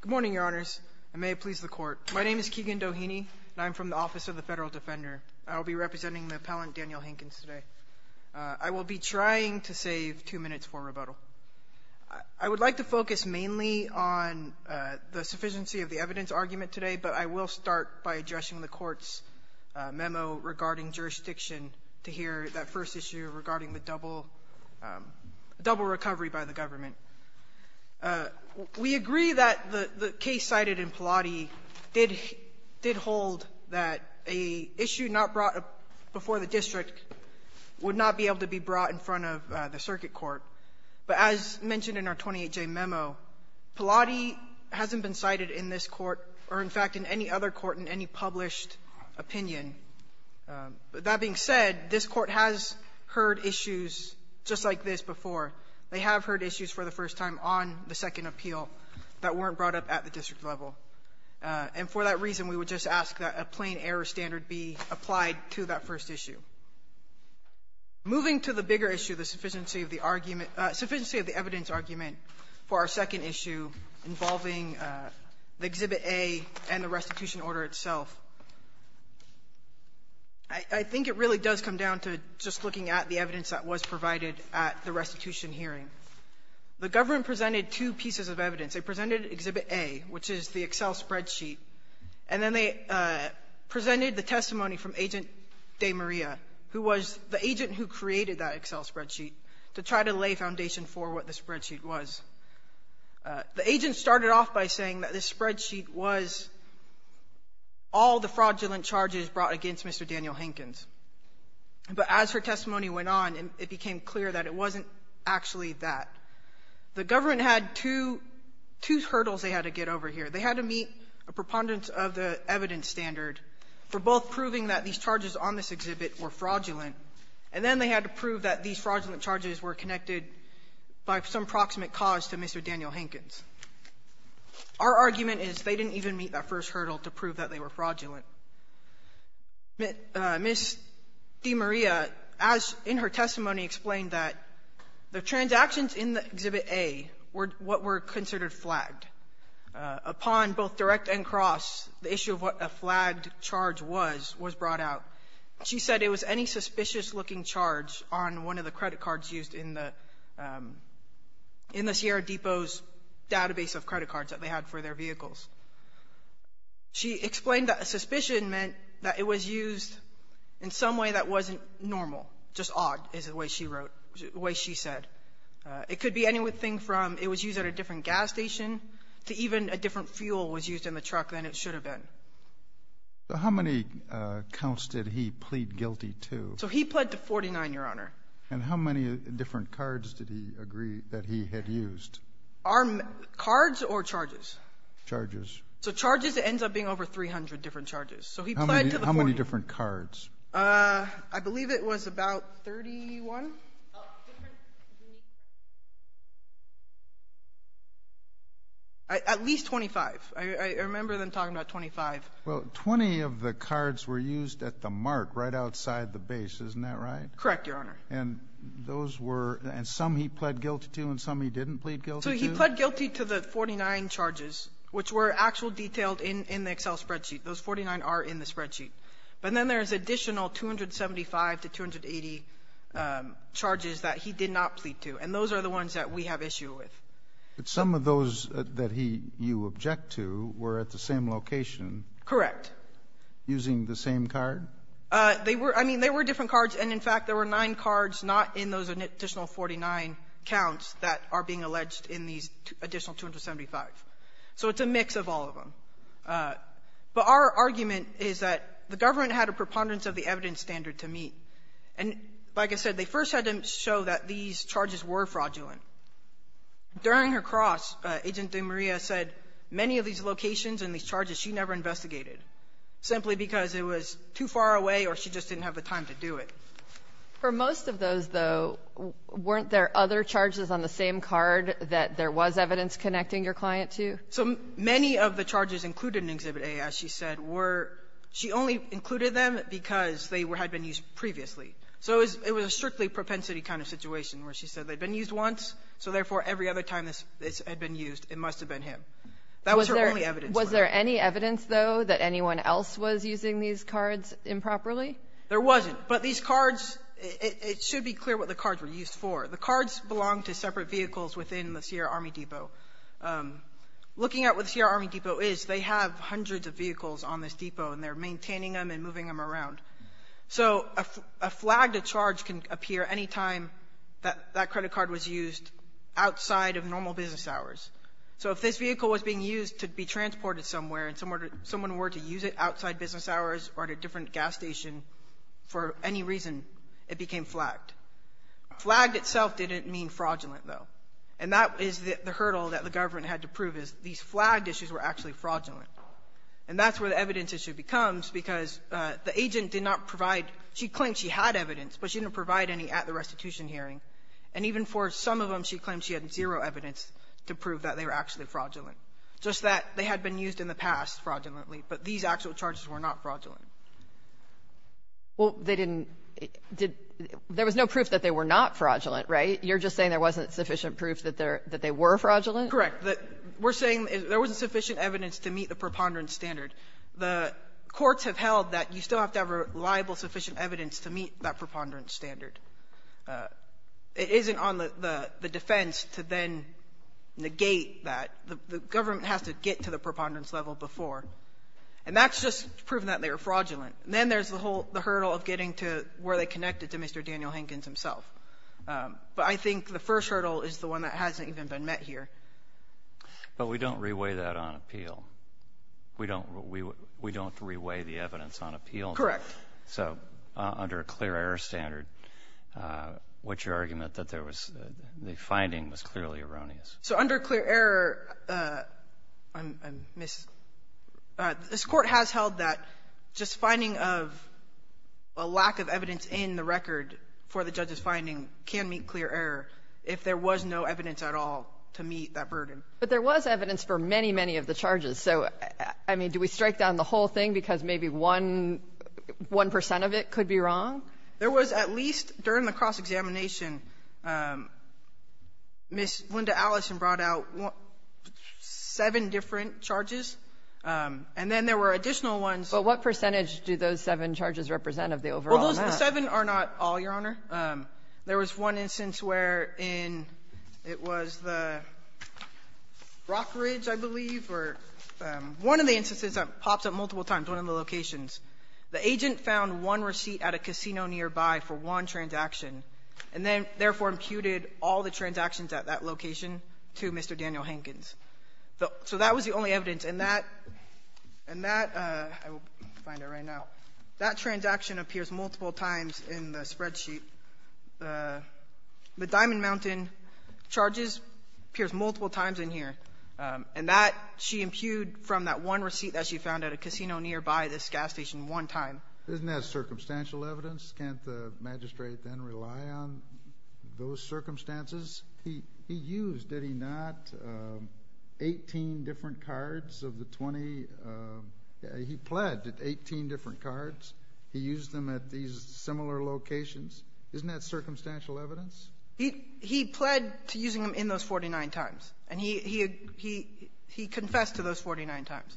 Good morning, Your Honors, and may it please the Court. My name is Keegan Doheny, and I'm from the Office of the Federal Defender. I will be representing the appellant Daniel Hankins today. I will be trying to save two minutes for rebuttal. I would like to focus mainly on the sufficiency of the evidence argument today, but I will start by addressing the Court's memo regarding jurisdiction to hear that first issue regarding the double recovery by the government. We agree that the case cited in Pallotti did hold that a issue not brought before the district would not be able to be brought in front of the circuit court, but as mentioned in our 28J memo, Pallotti hasn't been cited in this Court or, in fact, in any other court in any published opinion. That being said, this Court has heard issues just like this before. They have heard issues for the first time on the second appeal that weren't brought up at the district level. And for that reason, we would just ask that a plain error standard be applied to that first issue. Moving to the bigger issue, the sufficiency of the argument – sufficiency of the evidence argument for our second issue involving the Exhibit A and the restitution order itself. I think it really does come down to just looking at the evidence that was provided at the restitution hearing. The government presented two pieces of evidence. They presented Exhibit A, which is the Excel spreadsheet, and then they presented the testimony from Agent DeMaria, who was the agent who created that Excel spreadsheet, to try to lay foundation for what the spreadsheet was. The agent started off by saying that this spreadsheet was all the fraudulent charges brought against Mr. Daniel Hankins. But as her testimony went on, it became clear that it wasn't actually that. The government had two – two hurdles they had to get over here. They had to meet a preponderance of the evidence standard for both proving that these charges on this exhibit were fraudulent, and then they had to prove that these fraudulent charges were connected by some proximate cause to Mr. Daniel Hankins. Our argument is they didn't even meet that first hurdle to prove that they were fraudulent. Ms. DeMaria, as in her testimony, explained that the transactions in the Exhibit A were what were considered flagged. Upon both direct and cross, the issue of what a flagged charge was, was brought out. She said it was any suspicious-looking charge on one of the credit cards used in the Sierra Depot's database of credit cards that they had for their vehicles. She explained that suspicion meant that it was used in some way that wasn't normal, just odd, is the way she wrote – the way she said. It could be anything from it was used at a different gas station to even a different fuel was used in the truck than it should have been. So how many counts did he plead guilty to? So he pled to 49, Your Honor. And how many different cards did he agree that he had used? Are – cards or charges? Charges. So charges, it ends up being over 300 different charges. So he pled to the 40. How many different cards? I believe it was about 31? Oh, different – At least 25. I remember them talking about 25. Well, 20 of the cards were used at the mark right outside the base. Isn't that right? Correct, Your Honor. And those were – and some he pled guilty to and some he didn't plead guilty to? So he pled guilty to the 49 charges, which were actual detailed in the Excel spreadsheet. Those 49 are in the spreadsheet. But then there's additional 275 to 280 charges that he did not plead to. And those are the ones that we have issue with. But some of those that he – you object to were at the same location. Correct. Using the same card? They were – I mean, they were different cards. And in fact, there were nine cards not in those additional 49 counts that are being alleged in these additional 275. So it's a mix of all of them. But our argument is that the government had a preponderance of the evidence standard to meet. And like I said, they first had to show that these charges were fraudulent. During her cross, Agent DeMaria said many of these locations and these charges she never investigated, simply because it was too far away or she just didn't have the time to do it. For most of those, though, weren't there other charges on the same card that there was evidence connecting your client to? So many of the charges included in Exhibit A, as she said, were – she only included them because they had been used previously. So it was a strictly propensity kind of situation, where she said they'd been used once, so therefore every other time this had been used, it must have been him. That was her only evidence. Was there any evidence, though, that anyone else was using these cards improperly? There wasn't. But these cards – it should be clear what the cards were used for. The cards belonged to separate vehicles within the Sierra Army Depot. Looking at what the Sierra Army Depot is, they have hundreds of vehicles on this depot, and they're maintaining them and moving them around. So a flagged charge can appear anytime that that credit card was used outside of normal business hours. So if this vehicle was being used to be transported somewhere and someone were to use it outside business hours or at a different gas station for any reason, it became flagged. Flagged itself didn't mean fraudulent, though. And that is the hurdle that the government had to prove is these flagged issues were actually fraudulent. And that's where the evidence issue becomes, because the agent did not provide – she claimed she had evidence, but she didn't provide any at the restitution hearing. And even for some of them, she claimed she had zero evidence to prove that they were actually fraudulent, just that they had been used in the past fraudulently, but these actual charges were not fraudulent. Well, they didn't – there was no proof that they were not fraudulent, right? You're just saying there wasn't sufficient proof that they were fraudulent? Correct. We're saying there wasn't sufficient evidence to meet the preponderance standard. The courts have held that you still have to have reliable, sufficient evidence to meet that preponderance standard. It isn't on the defense to then negate that. The government has to get to the preponderance level before. And that's just proven that they were fraudulent. And then there's the whole – the hurdle of getting to where they connected to Mr. Daniel Hankins himself. But I think the first hurdle is the one that hasn't even been met here. But we don't reweigh that on appeal. We don't – we don't reweigh the evidence on appeal. Correct. So under a clear error standard, what's your argument that there was – the finding was clearly erroneous? So under clear error, I'm – this Court has held that just finding of a lack of evidence in the record for the judge's finding can meet clear error if there was no evidence at all to meet that burden. But there was evidence for many, many of the charges. So, I mean, do we strike down the whole thing because maybe one – 1 percent of it could be wrong? There was at least, during the cross-examination, Ms. Linda Allison brought out seven different charges. And then there were additional ones. But what percentage do those seven charges represent of the overall amount? Well, those seven are not all, Your Honor. There was one instance wherein it was the Rockridge, I believe, or one of the instances that pops up multiple times, one of the locations. The agent found one receipt at a casino nearby for one transaction and then, therefore, imputed all the transactions at that location to Mr. Daniel Hankins. So that was the only evidence. And that – and that – I will find it right now. That transaction appears multiple times in the spreadsheet. The Diamond Mountain charges appears multiple times in here. And that, she imputed from that one receipt that she found at a casino nearby this gas station one time. Isn't that circumstantial evidence? Can't the magistrate then rely on those circumstances? He used, did he not, 18 different cards of the 20 – he pledged 18 different cards. He used them at these similar locations. Isn't that circumstantial evidence? He pled to using them in those 49 times. And he confessed to those 49 times.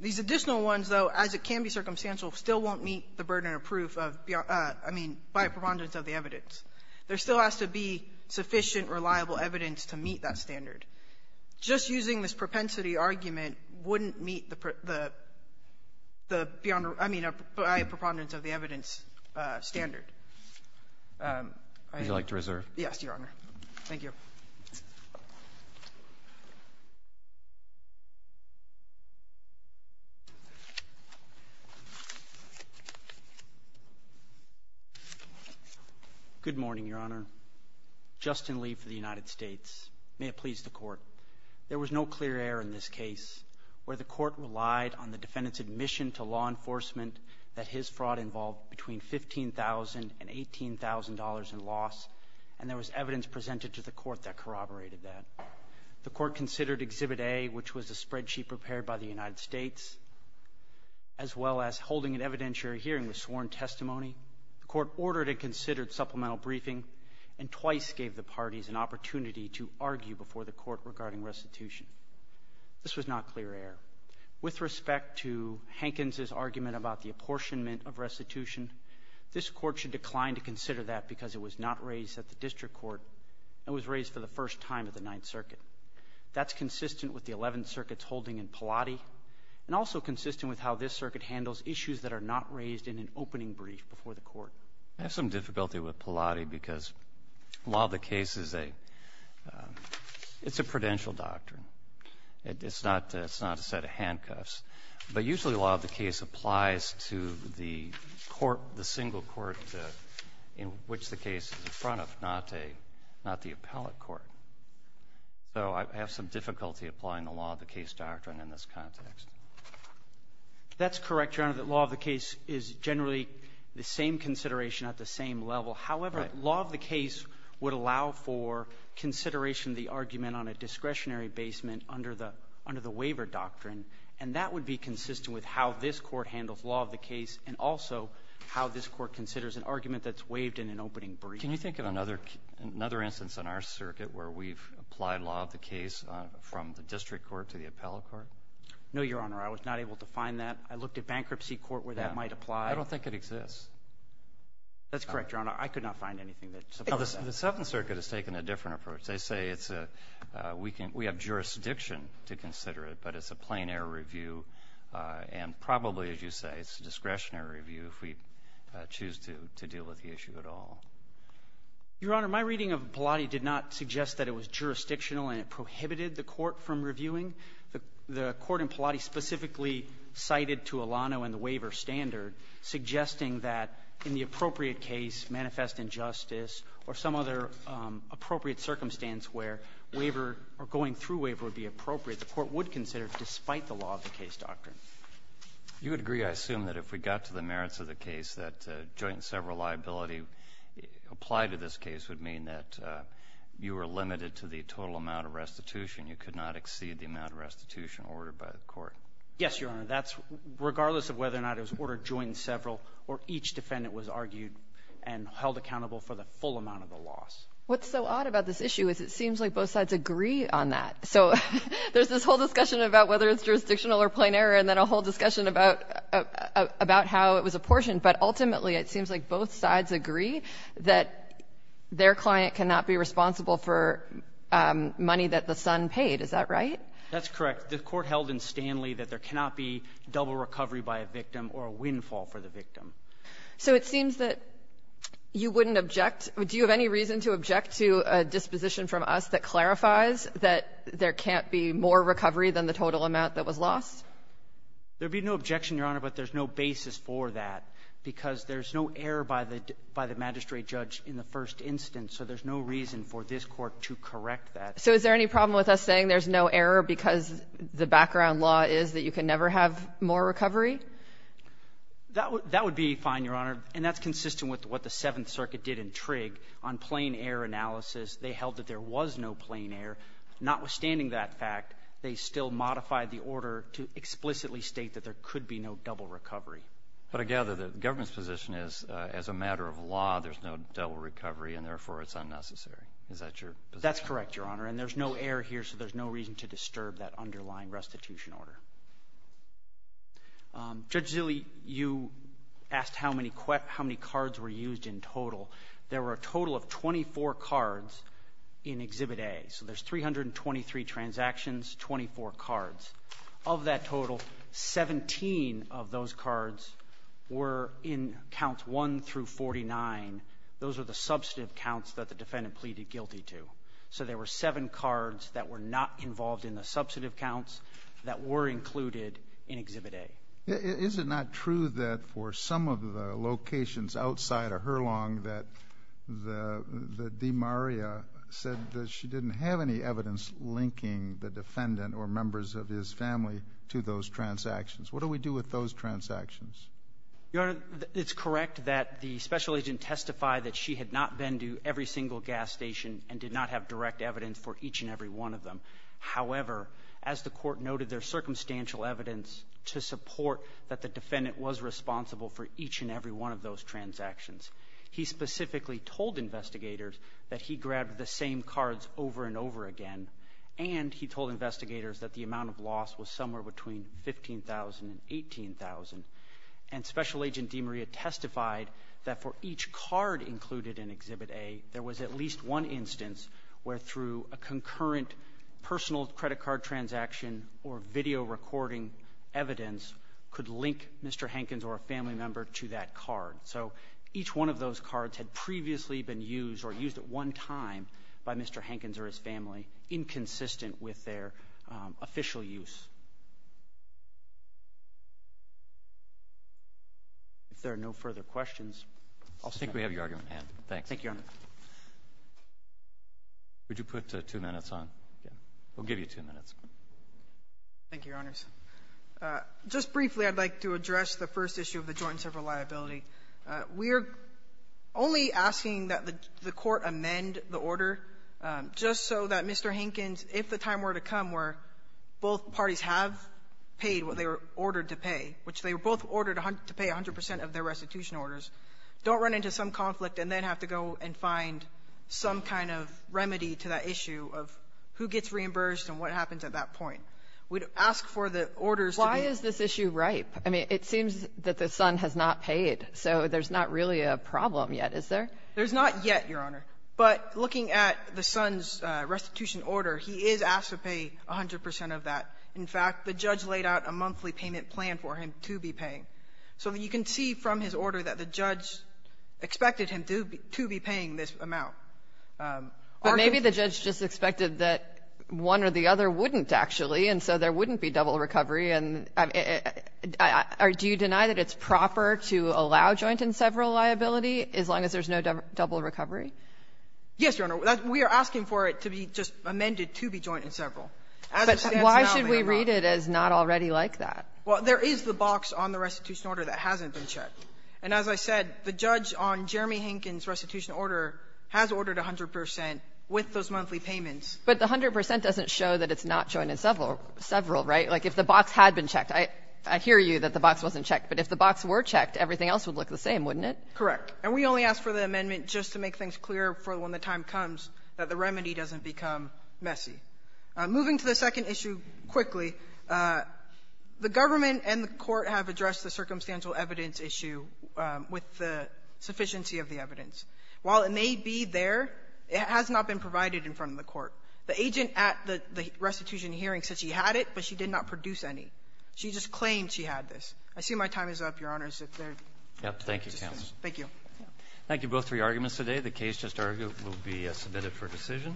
These additional ones, though, as it can be circumstantial, still won't meet the burden of proof of, I mean, by a preponderance of the evidence. There still has to be sufficient, reliable evidence to meet that standard. Just using this propensity argument wouldn't meet the – the beyond – I mean, by a preponderance of the evidence standard. I – Would you like to reserve? Yes, Your Honor. Thank you. Good morning, Your Honor. Justin Lee for the United States. May it please the Court. There was no clear error in this case where the Court relied on the defendant's admission to law enforcement that his fraud involved between $15,000 and $18,000 in loss, and there was evidence presented to the Court that corroborated that. The Court considered Exhibit A, which was a spreadsheet prepared by the United States, as well as holding an evidentiary hearing with sworn testimony. The Court ordered and considered supplemental briefing, and twice gave the parties an opportunity to argue before the Court regarding restitution. This was not clear error. With respect to Hankins's argument about the apportionment of restitution, this Court should decline to consider that because it was not raised at the District Court and was raised for the first time at the Ninth Circuit. That's consistent with the Eleventh Circuit's holding in Pallotti, and also consistent with how this Circuit handles issues that are not raised in an opening brief before the Court. I have some difficulty with Pallotti because law of the case is a – it's a prudential doctrine. It's not – it's not a set of handcuffs. But usually law of the case applies to the court, the single court in which the case is in front of, not a – not the appellate court. So I have some difficulty applying the law of the case doctrine in this context. That's correct, Your Honor, that law of the case is generally the same consideration at the same level. However, law of the case would allow for consideration of the argument on a discretionary basement under the waiver doctrine. And that would be consistent with how this Court handles law of the case and also how this Court considers an argument that's waived in an opening briefing. Can you think of another instance in our circuit where we've applied law of the case from the District Court to the appellate court? No, Your Honor. I was not able to find that. I looked at bankruptcy court where that might apply. I don't think it exists. That's correct, Your Honor. I could not find anything that supports that. The Seventh Circuit has taken a different approach. They say it's a – we can – we have jurisdiction to consider it, but it's a plain error review and probably, as you say, it's a discretionary review if we choose to deal with the issue at all. Your Honor, my reading of Pallotti did not suggest that it was jurisdictional and it prohibited the court from reviewing. The court in Pallotti specifically cited to Alano and the waiver standard, suggesting that in the appropriate case, manifest injustice or some other appropriate circumstance where waiver or going through waiver would be appropriate, the court would consider it despite the law of the case doctrine. You would agree, I assume, that if we got to the merits of the case, that joint and several liability applied to this case would mean that you were limited to the total amount of restitution. You could not exceed the amount of restitution ordered by the court. Yes, Your Honor. That's – regardless of whether or not it was ordered joint and several or each defendant was argued and held accountable for the full amount of the loss. What's so odd about this issue is it seems like both sides agree on that. So there's this whole discussion about whether it's jurisdictional or plain error and then a whole discussion about how it was apportioned. But ultimately, it seems like both sides agree that their client cannot be responsible for money that the son paid. Is that right? That's correct. The court held in Stanley that there cannot be double recovery by a victim or a windfall for the victim. So it seems that you wouldn't object. Do you have any reason to object to a disposition from us that clarifies that there can't be more recovery than the total amount that was lost? There would be no objection, Your Honor, but there's no basis for that because there's no error by the magistrate judge in the first instance. So there's no reason for this Court to correct that. So is there any problem with us saying there's no error because the background law is that you can never have more recovery? That would be fine, Your Honor, and that's consistent with what the Seventh Circuit did in Trigg on plain error analysis. They held that there was no plain error. Notwithstanding that fact, they still modified the order to explicitly state that there could be no double recovery. But again, the government's position is, as a matter of law, there's no double recovery, and therefore it's unnecessary. Is that your position? That's correct, Your Honor. And there's no error here, so there's no reason to disturb that underlying restitution order. Judge Zille, you asked how many cards were used in total. There were a total of 24 cards in Exhibit A. So there's 323 transactions, 24 cards. Of that total, 17 of those cards were in Counts 1 through 49. Those are the substantive counts that the defendant pleaded guilty to. So there were seven cards that were not involved in the substantive counts that were included in Exhibit A. Is it not true that for some of the locations outside of Hurlong that the demaria said that she didn't have any evidence linking the defendant or members of his family to those transactions? What do we do with those transactions? Your Honor, it's correct that the special agent testified that she had not been to every single gas station and did not have direct evidence for each and every one of them. However, as the Court noted, there's circumstantial evidence to support that the defendant was responsible for each and every one of those transactions. He specifically told investigators that he grabbed the same cards over and over again, and he told investigators that the amount of loss was somewhere between $15,000 and $18,000. And Special Agent Demaria testified that for each card included in Exhibit A, there was at least one instance where, through a concurrent personal credit card transaction or video recording evidence, could link Mr. Hankins or a family member to that card. So each one of those cards had previously been used or used at one time by Mr. Hankins or his family, inconsistent with their official use. If there are no further questions, I'll stop here. I think we have your argument in hand. Thank you, Your Honor. Would you put two minutes on? We'll give you two minutes. Thank you, Your Honors. Just briefly, I'd like to address the first issue of the joint and several liability. We're only asking that the Court amend the order just so that Mr. Hankins, if the time were to come where both parties have paid what they were ordered to pay, which they were both ordered to pay 100 percent of their restitution orders, don't run into some conflict and then have to go and find some kind of remedy to that issue of who gets reimbursed and what happens at that point. We'd ask for the orders to be ---- Why is this issue ripe? I mean, it seems that the son has not paid, so there's not really a problem yet, is there? There's not yet, Your Honor. But looking at the son's restitution order, he is asked to pay 100 percent of that. In fact, the judge laid out a monthly payment plan for him to be paying. So you can see from his order that the judge expected him to be paying this amount. But maybe the judge just expected that one or the other wouldn't, actually, and so there wouldn't be double recovery. Do you deny that it's proper to allow joint and several liability as long as there's no double recovery? Yes, Your Honor. We are asking for it to be just amended to be joint and several. But why should we read it as not already like that? Well, there is the box on the restitution order that hasn't been checked. And as I said, the judge on Jeremy Hinken's restitution order has ordered 100 percent with those monthly payments. But the 100 percent doesn't show that it's not joint and several, right? Like if the box had been checked, I hear you that the box wasn't checked, but if the box were checked, everything else would look the same, wouldn't it? Correct. And we only ask for the amendment just to make things clear for when the time comes that the remedy doesn't become messy. Moving to the second issue quickly, the government and the Court have addressed the circumstantial evidence issue with the sufficiency of the evidence. While it may be there, it has not been provided in front of the Court. The agent at the restitution hearing said she had it, but she did not produce any. She just claimed she had this. I see my time is up, Your Honors, if there's any questions. Thank you, counsel. Thank you both for your arguments today. The case just argued will be submitted for decision.